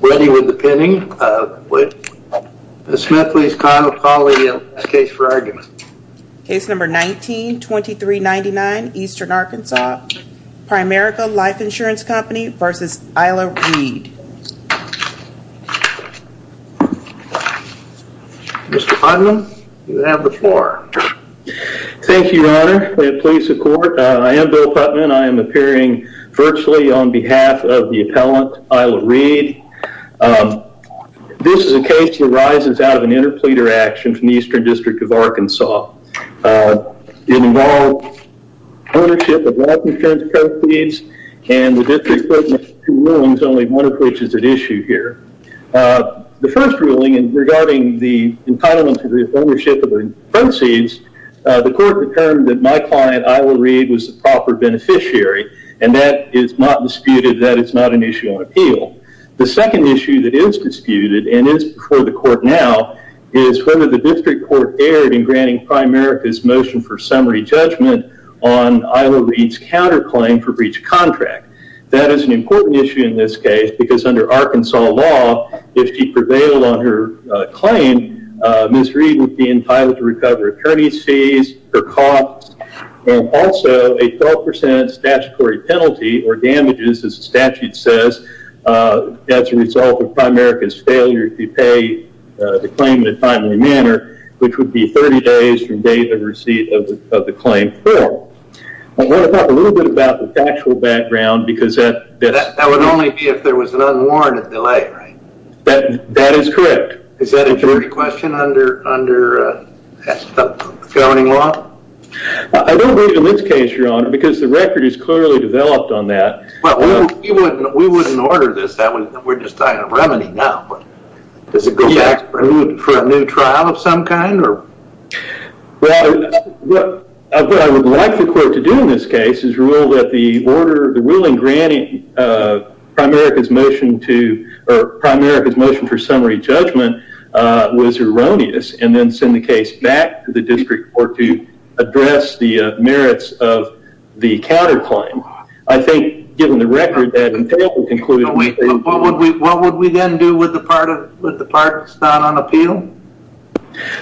Mr. Putnam, you have the floor. Thank you, Your Honor. I am Bill Putnam. I am appearing virtually on behalf of the appellant, Ila Reid. This is a case that arises out of an interpleader action from the Eastern District of Arkansas. It involved ownership of life insurance proceeds and the district court made two rulings, only one of which is at issue here. The first ruling regarding the entitlement to the ownership of the proceeds, the court determined that my client, Ila Reid, was the proper beneficiary and that is not disputed, that is not an issue on appeal. The second issue that is disputed and is before the court now is whether the district court erred in granting Primerica's motion for summary judgment on Ila Reid's counterclaim for breach of contract. That is an important issue in this case because under Arkansas law, if she also a 12% statutory penalty or damages, as the statute says, as a result of Primerica's failure to pay the claim in a timely manner, which would be 30 days from date of receipt of the claim. I want to talk a little bit about the factual background because that would only be if there was an unwarranted delay, right? That is correct. Is that a jury question under governing law? I don't believe in this case, your honor, because the record is clearly developed on that. But we wouldn't order this. We're just talking about remedy now. For a new trial of some kind? What I would like the court to do in this case is rule that the ruling granting Primerica's motion for summary judgment was erroneous and then send the case back to the merits of the counterclaim. What would we then do with the part that's not on appeal?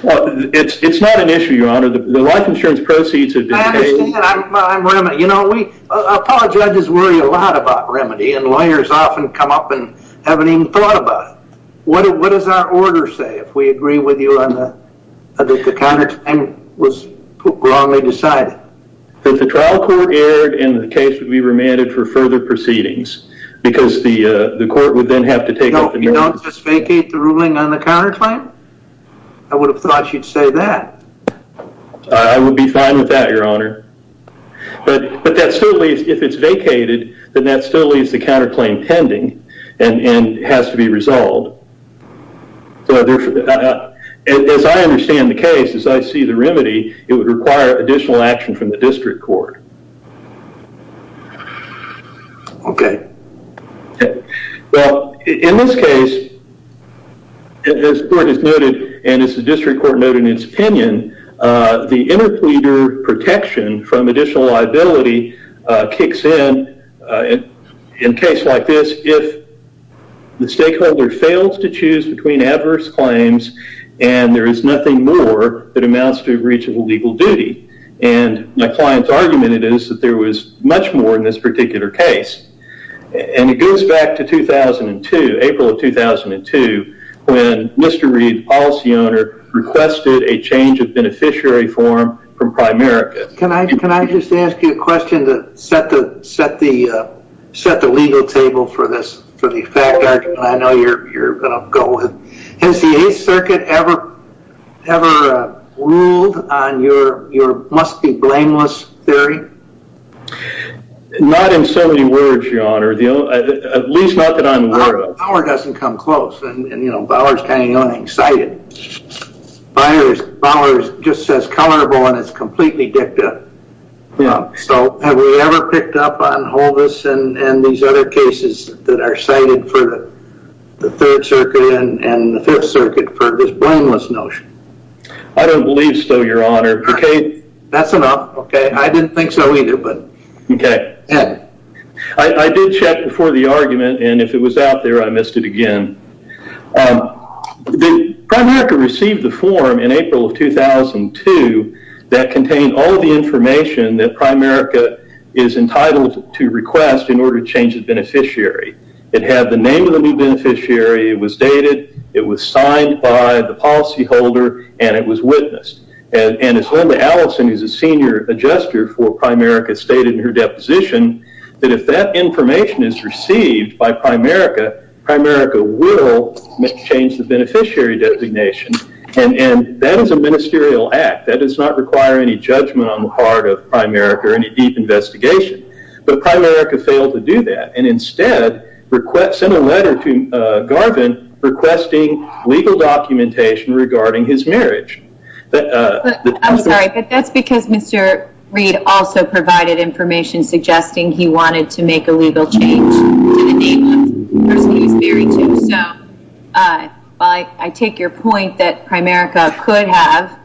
It's not an issue, your honor. The life insurance proceeds have been paid. I apologize. I just worry a lot about remedy and lawyers often come up and haven't even thought about it. What does our order say if we agree with you that the trial court erred and the case would be remanded for further proceedings? You don't just vacate the ruling on the counterclaim? I would have thought you'd say that. I would be fine with that, your honor. But that still leaves, if it's vacated, then that still leaves the counterclaim pending and has to be resolved. As I understand the case, as I see the remedy, it would require additional action from the district court. Okay. Well, in this case, as the court has noted and as the district court noted in its opinion, the interpleader protection from additional liability kicks in in a case like this if the stakeholder fails to choose between adverse claims and there is nothing more that amounts to a breach of a legal duty. And my client's argument is that there was much more in this particular case. And it goes back to 2002, April of 2002, when Mr. Reed, policy owner, requested a change of beneficiary form from Primerica. Can I just ask you a question to set the legal table for this, for the fact I know you're going to go with. Has the 8th Circuit ever ruled on your must be blameless theory? Not in so many words, your honor. At least not that I'm aware of. Bauer doesn't come close. And, you know, Bauer's kind of young and excited. Bauer just says colorable and it's completely dicta. So have we ever picked up on Hovis and these other cases that are cited for the 3rd Circuit and the 5th Circuit for this blameless notion? I don't believe so, your honor. Okay. That's enough. Okay. I didn't think so either, but. Okay. I did check before the argument and if it was out there, I missed it again. Primerica received the form in April of 2002 that contained all the information that Primerica is entitled to request in order to change its beneficiary. It had the name of the new beneficiary, it was dated, it was signed by the policyholder, and it was witnessed. And as Linda Allison, who's a senior adjuster for Primerica, stated in her deposition that if that information is received by Primerica, Primerica will change the beneficiary designation. And that is a ministerial act. That does not require any judgment on the part of Primerica or any deep investigation. But Primerica failed to do that and instead sent a letter to Garvin requesting legal documentation regarding his marriage. But I'm sorry, but that's because Mr. Reid also provided information suggesting he wanted to make a legal change to the name of the person he was married to. So while I take your point that Primerica could have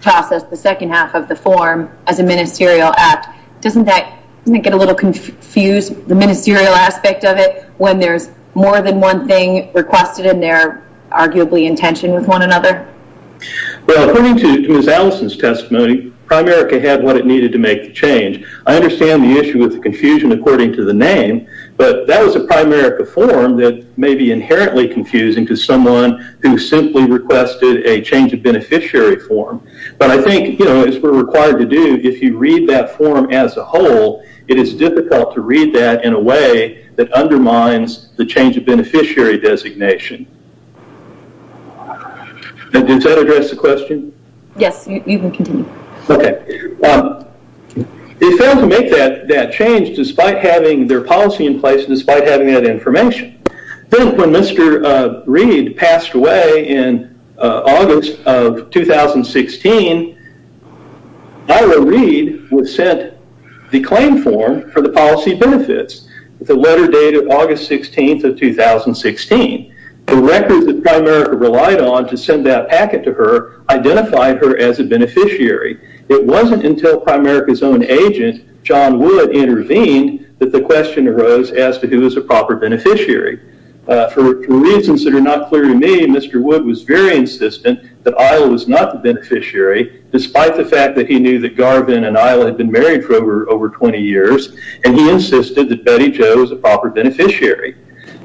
processed the second half of the form as a ministerial act, doesn't that get a little confused, the ministerial aspect of it, when there's more than one thing requested and they're arguably in tension with one another? Well, according to Ms. Allison's testimony, Primerica had what it needed to make the change. I understand the issue with the confusion according to the name, but that was a Primerica form that may be inherently confusing to someone who simply requested a change of beneficiary form. But I think, you know, as we're required to do, if you read that form as a whole, it is difficult to read that in a way that undermines the change of beneficiary designation. Does that address the question? Yes, you can continue. Okay. They failed to make that change despite having their policy in place, despite having that information. Then when Mr. Reid passed away in August of 2016, Isla Reid was sent the claim form for the policy benefits with a letter dated August 16th of 2016. The records that Primerica relied on to send that packet to her identified her as a beneficiary. It wasn't until Primerica's own agent, John Wood, intervened that the question arose as to who was a proper beneficiary. For reasons that are not clear to me, Mr. Wood was very insistent that Isla was not the beneficiary, despite the fact that he knew that Garvin and Isla had been married for over 20 years, and he insisted that Betty Jo was a proper beneficiary.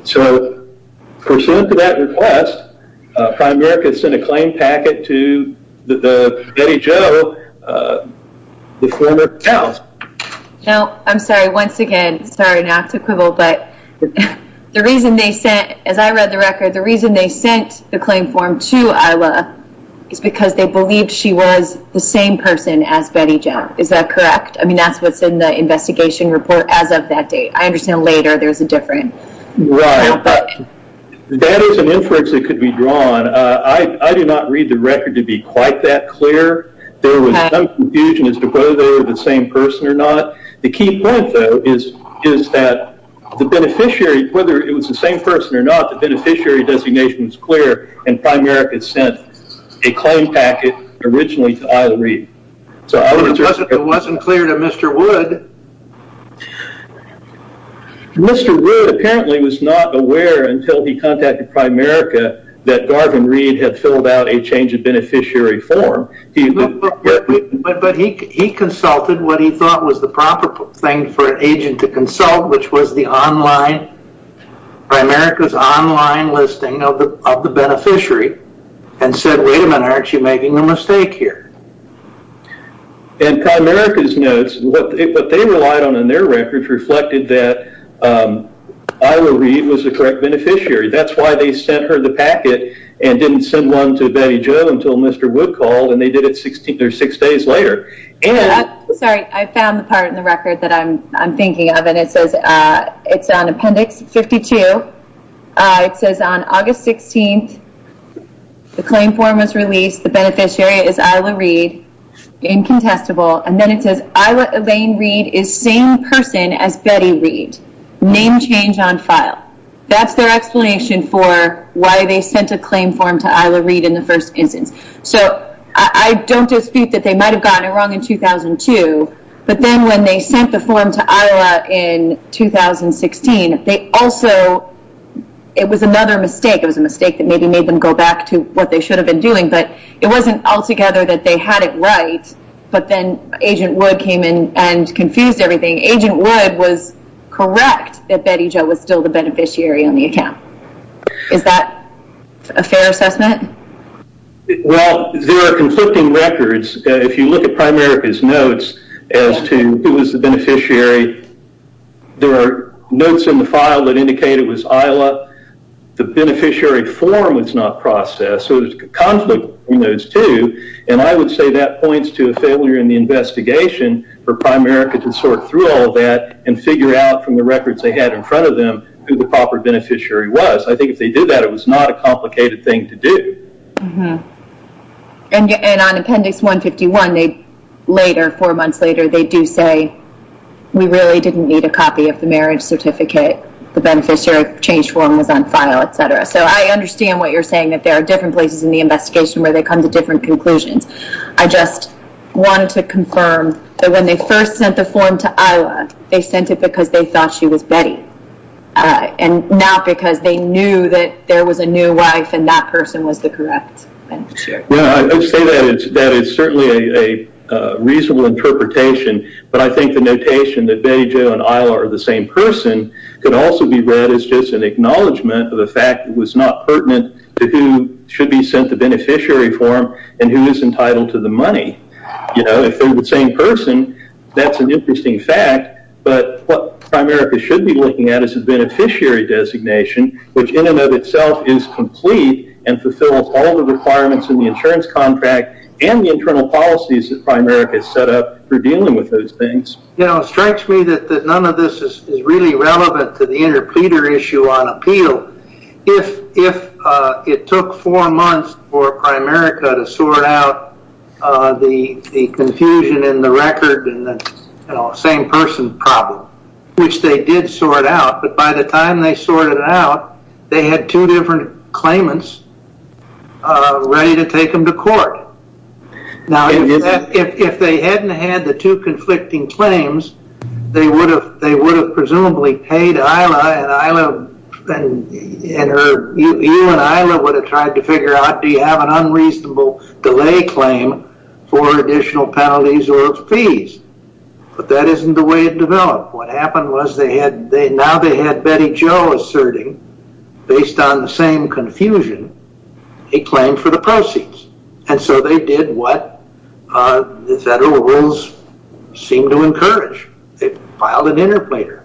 So, pursuant to that request, Primerica sent a claim packet to the Betty Jo, the former house. Now, I'm sorry, once again, sorry not to quibble, but the reason they sent, as I read the record, the reason they sent the claim form to Isla is because they believed she was the same person as Betty Jo. Is that correct? I mean, that's what's in the investigation report as of that date. I understand later there's a different... Right, but that is an inference that could be drawn. I do not read the record to be quite that clear. There was some confusion as to whether they were the same person or not. The key point, though, is that the beneficiary, whether it was same person or not, the beneficiary designation was clear, and Primerica sent a claim packet originally to Isla Reed. It wasn't clear to Mr. Wood. Mr. Wood apparently was not aware until he contacted Primerica that Garvin Reed had filled out a change of beneficiary form. But he consulted what he thought was the proper thing for an agent to consult, which was Primerica's online listing of the beneficiary, and said, wait a minute, aren't you making a mistake here? And Primerica's notes, what they relied on in their records reflected that Isla Reed was the correct beneficiary. That's why they sent her the packet and didn't send one to Betty Jo until Mr. Wood called, and they did it six days later. Sorry, I found the part in the record that I'm thinking of, and it says, it's on appendix 52. It says on August 16th, the claim form was released. The beneficiary is Isla Reed, incontestable. And then it says, Isla Elaine Reed is same person as Betty Reed, name change on file. That's their explanation for why they sent a claim form to Isla Reed in the first instance. So I don't dispute that they might have gotten it wrong in 2002. But then when they sent the form to Isla in 2016, they also, it was another mistake. It was a mistake that maybe made them go back to what they should have been doing. But it wasn't altogether that they had it right. But then Agent Wood came in and confused everything. Agent Wood was correct that Betty Reed was the beneficiary on the account. Is that a fair assessment? Well, there are conflicting records. If you look at Primerica's notes as to who was the beneficiary, there are notes in the file that indicate it was Isla. The beneficiary form was not processed. So there's a conflict between those two. And I would say that points to a failure in the investigation for Primerica to sort through all of that and figure out the records they had in front of them who the proper beneficiary was. I think if they did that, it was not a complicated thing to do. And on Appendix 151, they later, four months later, they do say, we really didn't need a copy of the marriage certificate. The beneficiary change form was on file, et cetera. So I understand what you're saying, that there are different places in the investigation where they come to different conclusions. I just wanted to confirm that when they first sent the form to Isla, they sent it because they thought she was Betty, not because they knew that there was a new wife and that person was the correct beneficiary. I would say that it's certainly a reasonable interpretation. But I think the notation that Betty Jo and Isla are the same person could also be read as just an acknowledgment of the fact that it was not pertinent to who should be sent the beneficiary form and who is entitled to the money. If they're the same person, that's an interesting fact. But what Primerica should be looking at is the beneficiary designation, which in and of itself is complete and fulfills all the requirements in the insurance contract and the internal policies that Primerica has set up for dealing with those things. You know, it strikes me that none of this is really relevant to the interpleader issue on record and the same person problem, which they did sort out. But by the time they sorted it out, they had two different claimants ready to take them to court. Now, if they hadn't had the two conflicting claims, they would have presumably paid Isla and you and Isla would have tried to But that isn't the way it developed. What happened was now they had Betty Jo asserting, based on the same confusion, a claim for the proceeds. And so they did what the federal rules seemed to encourage. They filed an interpleader.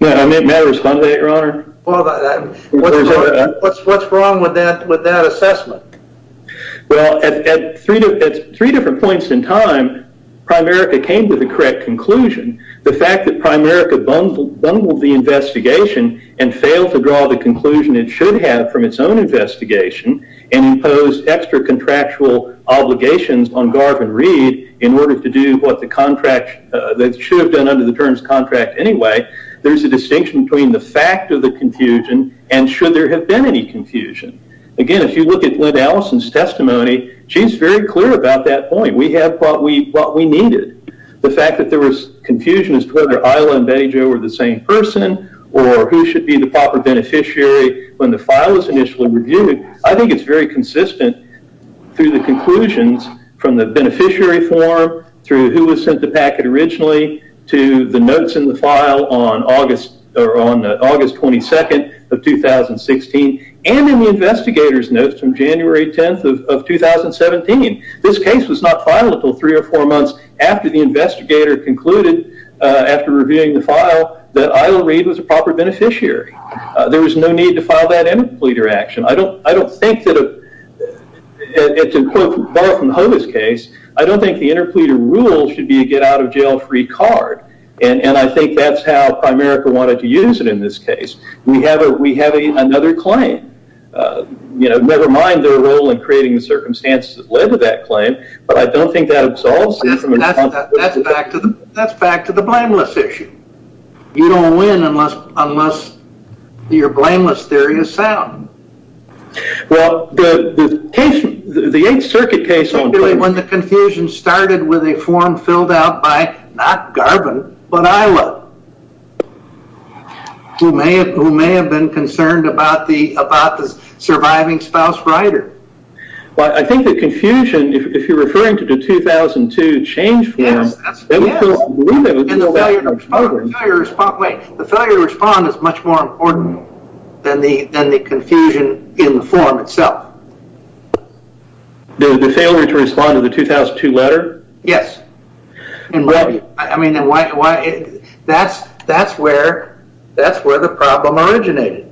May I respond to that, your honor? What's wrong with that assessment? Well, at three different points in time, Primerica came to the correct conclusion. The fact that Primerica bungled the investigation and failed to draw the conclusion it should have from its own investigation and imposed extra contractual obligations on Garvin Reed in order to do what they should have done under the terms contract anyway, there's a distinction between the fact of the confusion and should there have been any confusion. Again, if you look at Lynn Allison's testimony, she's very clear about that point. We have what we needed. The fact that there was confusion as to whether Isla and Betty Jo were the same person or who should be the proper beneficiary when the file is initially reviewed, I think it's very consistent through the conclusions from the beneficiary form, through who was sent the packet originally, to the notes in the file on August 22nd of 2016 and in the investigator's notes from January 10th of 2017. This case was not filed until three or four months after the investigator concluded after reviewing the file that Isla Reed was a proper beneficiary. There was no need to file that interpleader action. I don't think that, to quote from Hoda's case, I don't think the interpleader rule should be a get-out-of-jail-free card and I think that's how Primerica wanted to use it in this case. We have another claim. You know, never mind their role in creating the circumstances that led to that claim, but I don't think that absolves them. That's back to the blameless issue. You don't win unless your blameless theory is sound. Well, the case, the Eighth Circuit case... When the confusion started with a form filled out by not Garvin, but Isla, who may have been concerned about the surviving spouse writer. Well, I think the confusion, if you're referring to the 2002 change form... Yes, yes. And the failure to respond is much more important than the confusion in the form itself. The failure to respond to the 2002 letter? Yes. That's where the problem originated.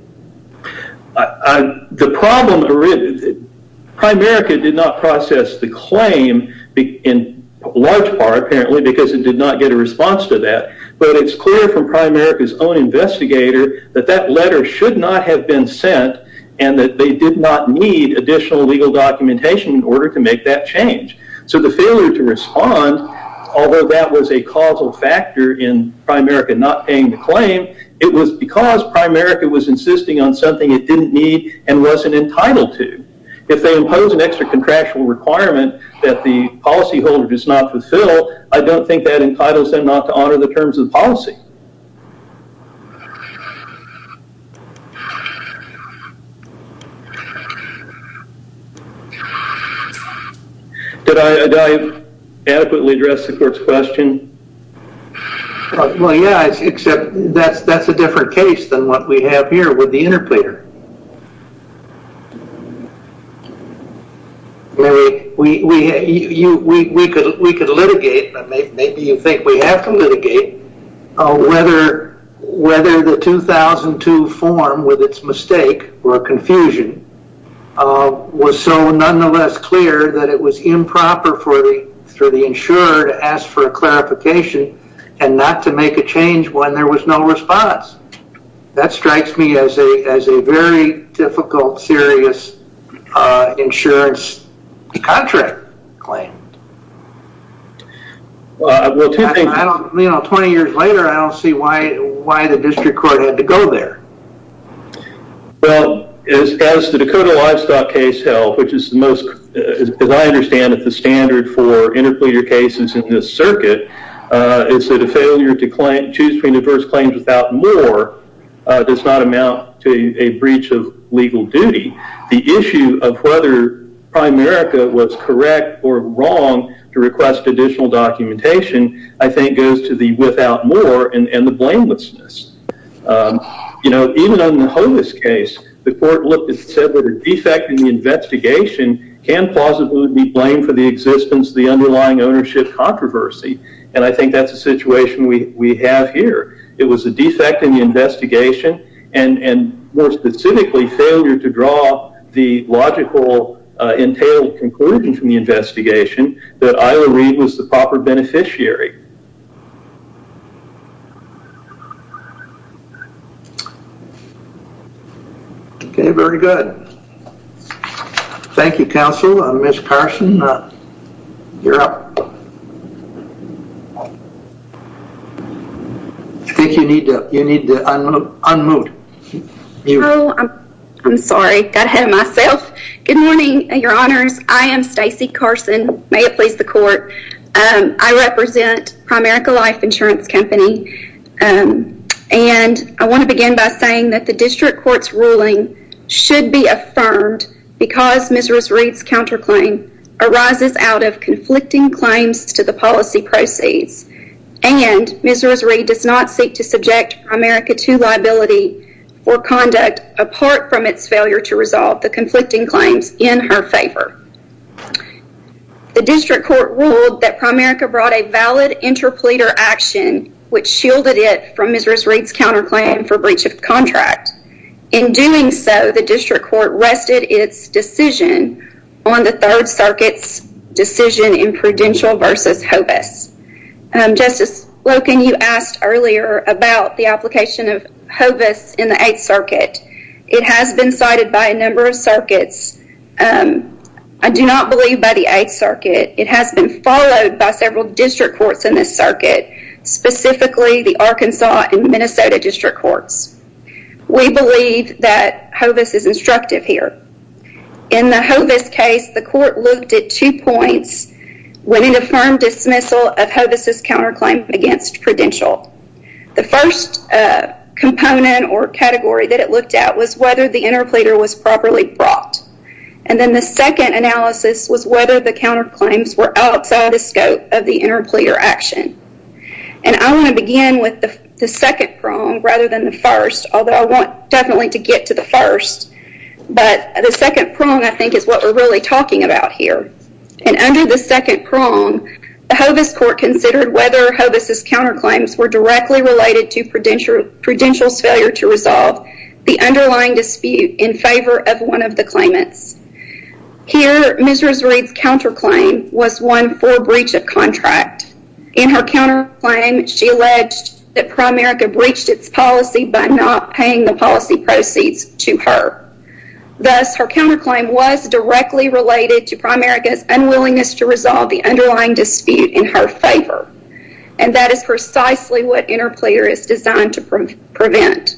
The problem, Primerica did not process the claim in large part, apparently, because it did not get a response to that. But it's clear from Primerica's own investigator that that letter should not have been sent and that they did not need additional legal documentation in order to make that change. So the failure to respond, although that was a causal factor in Primerica not paying the claim, it was because Primerica was insisting on something it didn't need and wasn't entitled to. If they impose an extra contractual requirement that the policyholder does not fulfill, I don't think that entitles them not to honor the terms of the policy. Did I adequately address the court's question? Well, yeah, except that's a different case than what we have here with the interpleader. We could litigate, but maybe you think we have to litigate whether the 2002 form with its mistake or confusion was so nonetheless clear that it was improper for the insurer to ask for a clarification and not to make a change when there was no response. That strikes me as a very difficult, serious insurance contract claim. 20 years later, I don't see why the district court had to go there. Well, as the Dakota Livestock case held, which is the most, as I understand it, the standard for interpleader cases in this circuit, is that a failure to choose between adverse claims without more does not amount to a breach of legal duty. The issue of whether Primerica was correct or wrong to request additional documentation, I think, goes to the without more and the blamelessness. You know, even on the Homas case, the court said the defect in the investigation can plausibly be blamed for the existence of the underlying ownership controversy, and I think that's a situation we have here. It was a defect in the investigation, and more specifically, failure to draw the logical, entailed conclusion from the investigation that Isla Reid was the proper beneficiary. Okay, very good. Thank you, counsel. Ms. Carson, you're up. I think you need to unmute. Oh, I'm sorry, got ahead of myself. Good morning, your honors. I am Stacey Carson. May it please the court. I represent Primerica Life Insurance Company, and I want to begin by saying that the district court's ruling should be upheld. Because Ms. Reid's counterclaim arises out of conflicting claims to the policy proceeds, and Ms. Reid does not seek to subject Primerica to liability for conduct apart from its failure to resolve the conflicting claims in her favor. The district court ruled that Primerica brought a valid interpleader action, which shielded it from Ms. Reid's counterclaim for breach of contract. In doing so, the district court rested its decision on the Third Circuit's decision in Prudential versus Hovis. Justice Loken, you asked earlier about the application of Hovis in the Eighth Circuit. It has been cited by a number of circuits. I do not believe by the Eighth Circuit. It has been followed by several district courts in this circuit, specifically the Arkansas and Minnesota district courts. We believe that Hovis is instructive here. In the Hovis case, the court looked at two points when it affirmed dismissal of Hovis's counterclaim against Prudential. The first component or category that it looked at was whether the interpleader was properly brought. And then the second analysis was whether the counterclaims were outside the scope of the interpleader action. And I want to begin with the second prong rather than the first, although I want definitely to get to the first. But the second prong, I think, is what we're really talking about here. And under the second prong, the Hovis court considered whether Hovis's counterclaims were directly related to Prudential's failure to resolve the underlying dispute in favor of one of the claimants. Here, Ms. Reid's counterclaim was one for breach of contract. In her counterclaim, she alleged that Primerica breached its policy by not paying the policy proceeds to her. Thus, her counterclaim was directly related to Primerica's unwillingness to resolve the underlying dispute in her favor. And that is precisely what interpleader is designed to prevent.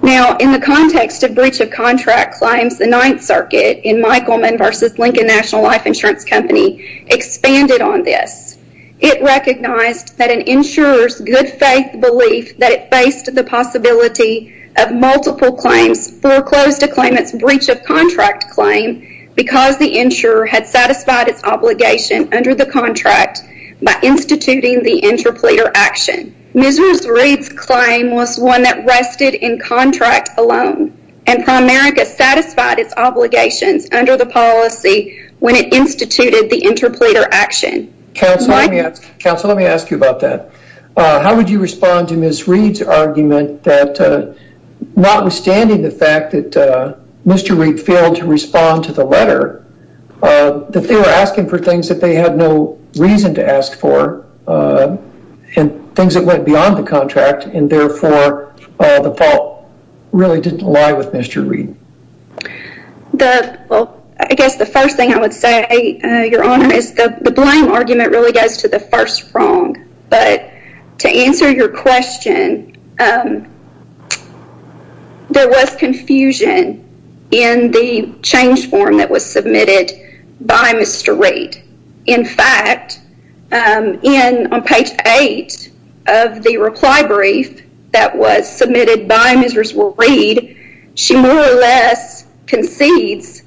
Now, in the context of breach of contract claims, the Ninth Circuit in Michaelman v. Lincoln National Life Insurance Company expanded on this. It recognized that an insurer's good faith belief that it faced the possibility of multiple claims foreclosed a claimant's breach of contract claim because the insurer had satisfied its obligation under the contract by instituting the interpleader action. Ms. Reid's claim was one that rested in contract alone. And Primerica satisfied its obligations under the policy when it instituted the interpleader action. Counsel, let me ask you about that. How would you respond to Ms. Reid's argument that notwithstanding the fact that Mr. Reid failed to respond to the letter, that they were asking for things that they had no reason to ask for and things that went beyond the contract and therefore the fault really didn't lie with Mr. Reid? Well, I guess the first thing I would say, Your Honor, the blame argument really goes to the first prong. But to answer your question, there was confusion in the change form that was submitted by Mr. Reid. In fact, on page 8 of the reply brief that was submitted by Ms. Reid, she more or less concedes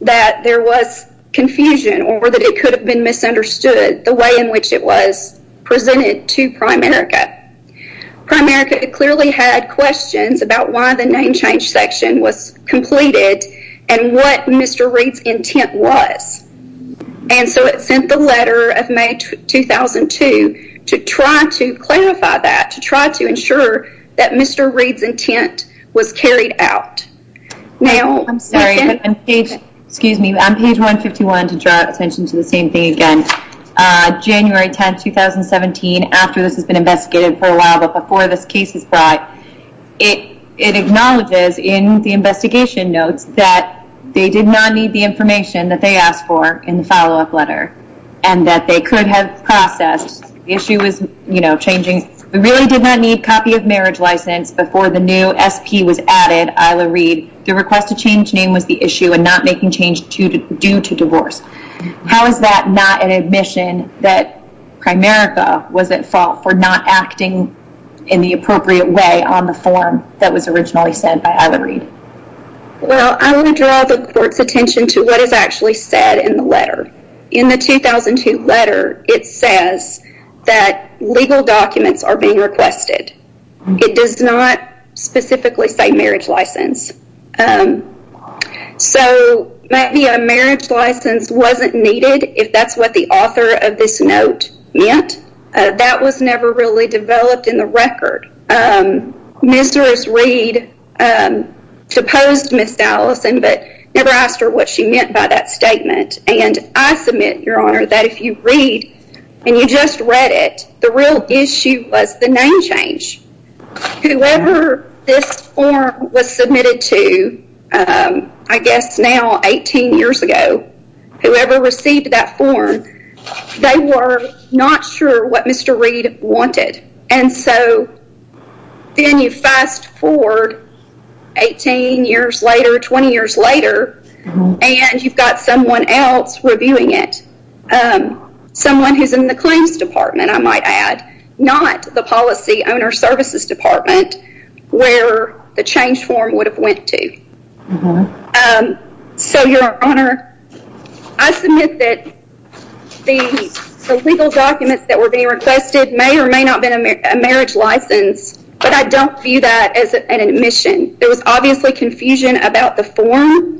that there was confusion or that it could have been misunderstood the way in which it was presented to Primerica. Primerica clearly had questions about why the name change section was completed and what Mr. Reid's intent was. And so it sent the letter of May 2002 to try to clarify that, to try to ensure that Mr. Reid's intent was carried out. I'm sorry, but on page 151, to draw attention to the same thing again, January 10, 2017, after this has been investigated for a while, but before this case is brought, it acknowledges in the investigation notes that they did not need the information that they asked for in the follow-up letter and that they could have processed. The issue was changing. We really did not need copy of marriage license before the new SP was added, Isla Reid. The request to change name was the issue and not making change due to divorce. How is that not an admission that Primerica was at fault for not acting in the appropriate way on the form that was originally said by Isla Reid? Well, I want to draw the court's attention to what is actually said in the letter. In the 2002 letter, it says that legal documents are being requested. It does not specifically say marriage license. So maybe a marriage license wasn't needed if that's what the author of this note meant. That was never really developed in the record. Ms. Harris Reid supposed Ms. Allison, but never asked her what she meant by that statement. And I submit, Your Honor, that if you read and you just read it, the real issue was the name change. Whoever this form was submitted to, I guess now 18 years ago, whoever received that form, they were not sure what Mr. Reid wanted. And so then you fast forward 18 years later, 20 years later, and you've got someone else reviewing it. Someone who's in the claims department, I might add, not the policy owner services department, where the change form would have went to. So, Your Honor, I submit that the legal documents that were being requested may or may not have been a marriage license, but I don't view that as an admission. There was obviously confusion about the form.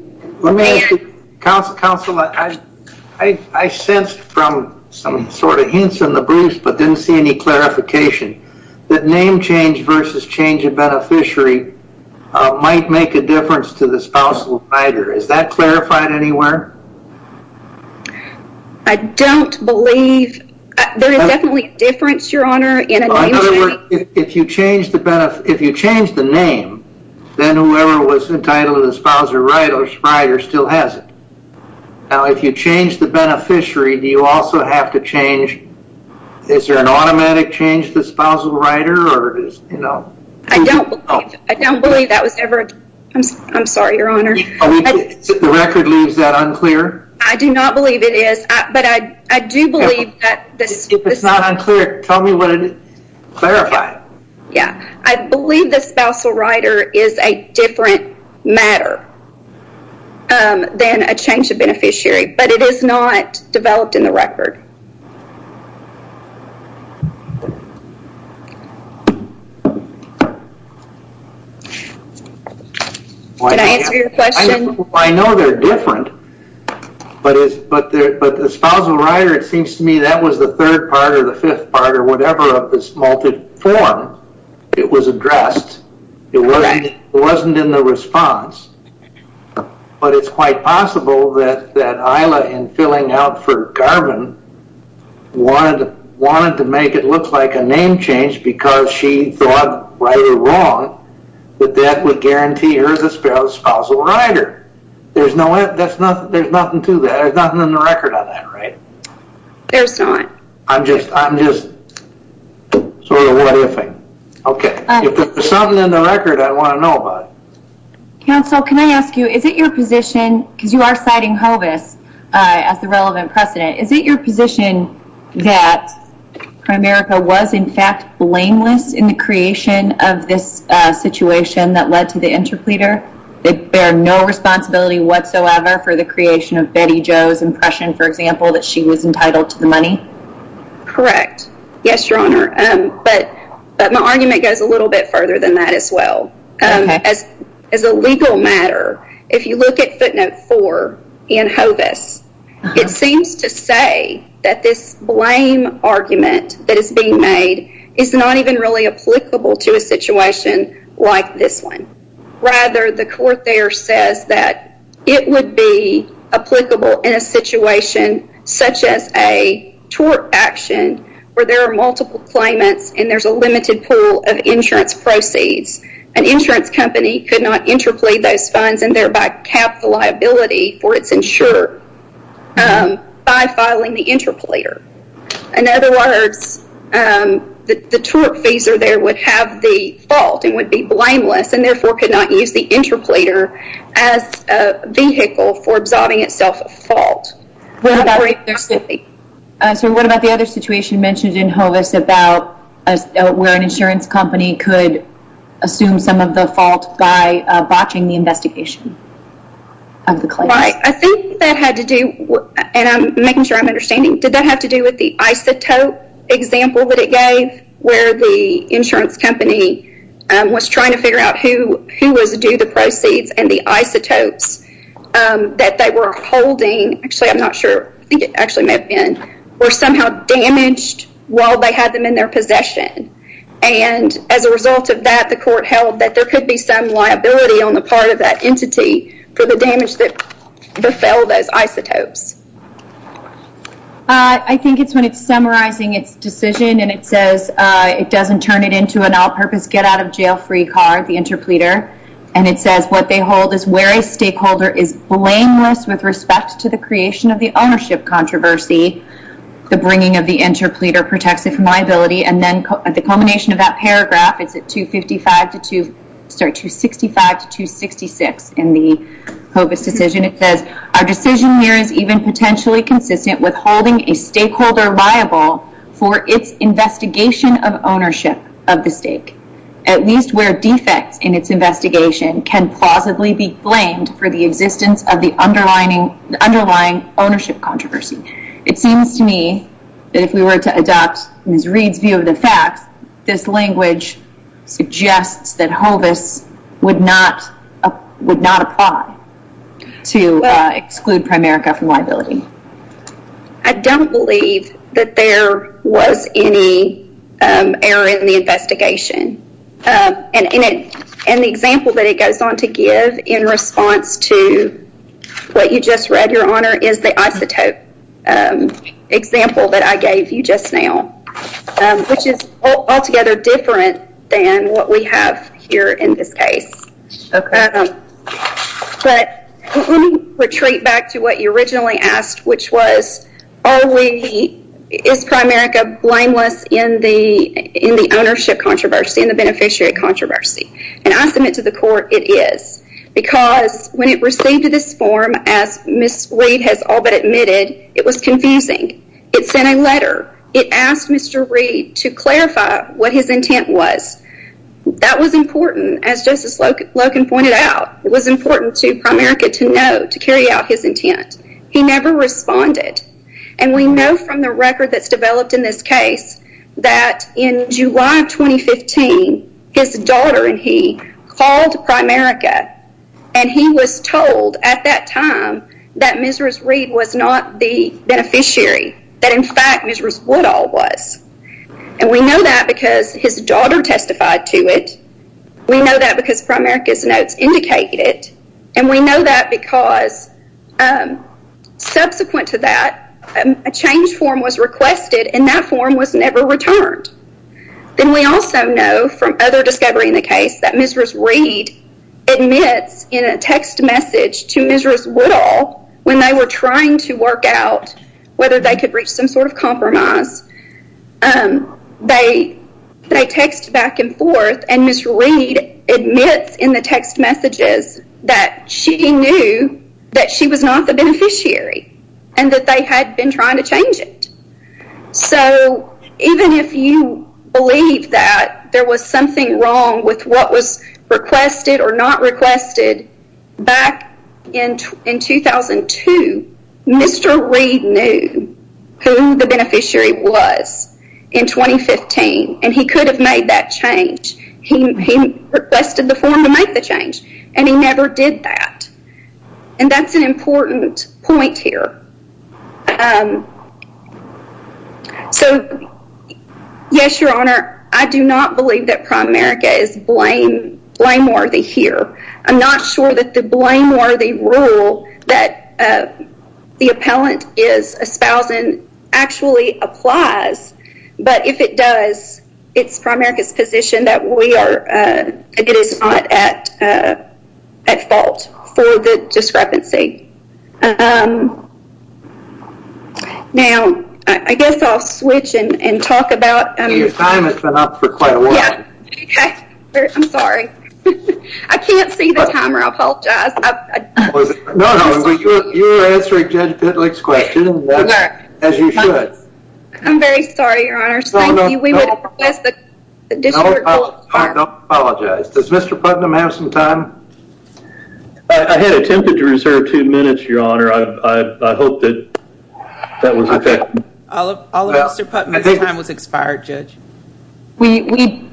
Counselor, I sensed from some sort of hints in the briefs, but didn't see any clarification that name change versus change of beneficiary might make a difference to the spousal rider. Is that clarified anywhere? I don't believe there is definitely a difference, Your Honor. If you change the name, then whoever was entitled to the spousal rider still has it. Now, if you change the beneficiary, do you also have to change, is there an automatic change to the spousal rider or is, you know? I don't believe that was ever. I'm sorry, Your Honor. The record leaves that unclear. I do not believe it is, but I do believe that. It's not unclear. Tell me what it is. Clarify. Yeah. I believe the spousal rider is a different matter than a change of beneficiary, but it is not developed in the record. Did I answer your question? I know they're different, but the spousal rider, it seems to me that was the third part or the fifth part or whatever of this multi-form, it was addressed. It wasn't in the response, but it's quite possible that Isla, in filling out for Garvin, wanted to make it look like a name change because she thought right or wrong that that would guarantee her the spousal rider. There's nothing to that. There's nothing in the record on that, right? There's not. I'm just sort of what if-ing. Okay. If there's something in the record, I want to know about it. Counsel, can I ask you, is it your position, because you are citing Hovis as the relevant precedent, is it your position that Prime Merica was, in fact, blameless in the creation of this situation that led to the interpleader, that they are no responsibility whatsoever for the creation of Betty Jo's impression, for example, that she was entitled to the money? Correct. Yes, Your Honor, but my argument goes a little bit further than that as well. As a legal matter, if you look at footnote four in Hovis, it seems to say that this blame argument that is being made is not even really applicable to a situation like this one. Rather, the court there says that it would be applicable in a situation such as a tort action where there are multiple claimants and there's a limited pool of insurance proceeds. An insurance company could not interplead those funds and thereby cap the liability for its insurer by filing the interpleader. In other words, the tort fees there would have the fault and would be blameless and therefore could not use the interpleader as a vehicle for absolving itself of fault. What about the other situation mentioned in Hovis where an insurance company could assume some of the fault by botching the investigation of the claim? I think that had to do, and I'm making sure I'm understanding, did that have to do with the isotope example that it gave where the insurance company was trying to figure out who was due the proceeds and the isotopes that they were holding, actually I'm not sure, I think it actually may have been, were somehow damaged while they had them in their possession. As a result of that, the court held that there could be some liability on the part of that entity for the damage that befell those isotopes. I think it's when it's summarizing its decision and it says it doesn't turn it into an all-purpose get out of jail free card, the interpleader, and it says, what they hold is where a stakeholder is blameless with respect to the creation of the ownership controversy, the bringing of the interpleader protects it from liability. And then at the culmination of that paragraph, it's at 265 to 266 in the Hovis decision. It says, our decision here is even potentially consistent with holding a stakeholder liable for its investigation of ownership of the stake, at least where defects in its investigation can plausibly be blamed for the existence of the underlying ownership controversy. It seems to me that if we were to adopt Ms. Reed's view of the facts, this language suggests that Hovis would not apply to exclude Primerica from liability. I don't believe that there was any error in the investigation. And the example that it goes on to give in response to what you just read, Your Honor, is the isotope example that I gave you just now, which is altogether different than what we have here in this case. Okay. But let me retreat back to what you originally asked, which was, are we, is Primerica blameless in the ownership controversy, in the beneficiary controversy? And I submit to the court, it is. Because when it received this form, as Ms. Reed has all but admitted, it was confusing. It sent a letter. It asked Mr. Reed to clarify what his intent was. That was important, as Justice Loken pointed out. It was important to Primerica to know, to carry out his intent. He never responded. And we know from the record that's developed in this case, that in July of 2015, his daughter and he called Primerica. And he was told at that time that Ms. Reed was not the beneficiary, that in fact, Ms. Woodall was. And we know that because his daughter testified to it. We know that because Primerica's notes indicate it. And we know that because subsequent to that, a change form was requested and that form was never returned. Then we also know from other discovery in the case, that Ms. Reed admits in a text message to Ms. Woodall, when they were trying to work out whether they could reach some sort of compromise, they text back and forth. And Ms. Reed admits in the text messages that she knew that she was not the beneficiary and that they had been trying to change it. So even if you believe that there was something wrong with what was requested or not requested, back in 2002, Mr. Reed knew who the beneficiary was. In 2015, and he could have made that change. He requested the form to make the change, and he never did that. And that's an important point here. So yes, Your Honor, I do not believe that Primerica is blameworthy here. I'm not sure that the blameworthy rule that the appellant is espousing actually applies but if it does, it's Primerica's position that it is not at fault for the discrepancy. Now, I guess I'll switch and talk about- Your time has been up for quite a while. Yeah, I'm sorry. I can't see the timer, I apologize. No, no, you're answering Judge Bittling's question as you should. I'm very sorry, Your Honor. Thank you. We would have requested- I apologize. Does Mr. Putnam have some time? I had attempted to reserve two minutes, Your Honor. I hope that that was okay. All of Mr. Putnam's time was expired, Judge. We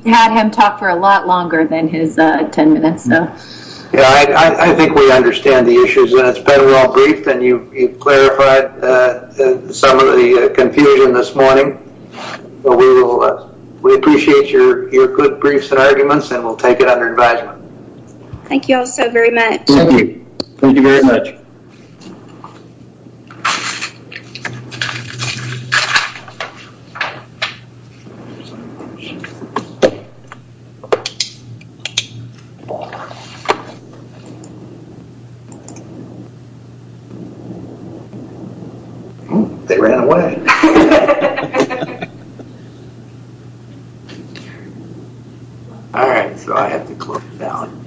had him talk for a lot longer than his 10 minutes. Yeah, I think we understand the issues and it's better all briefed You've clarified some of the confusion this morning. We appreciate your good briefs and arguments and we'll take it under advisement. Thank you all so very much. Thank you. Thank you very much. Oh, they ran away. All right, so I have to close it down.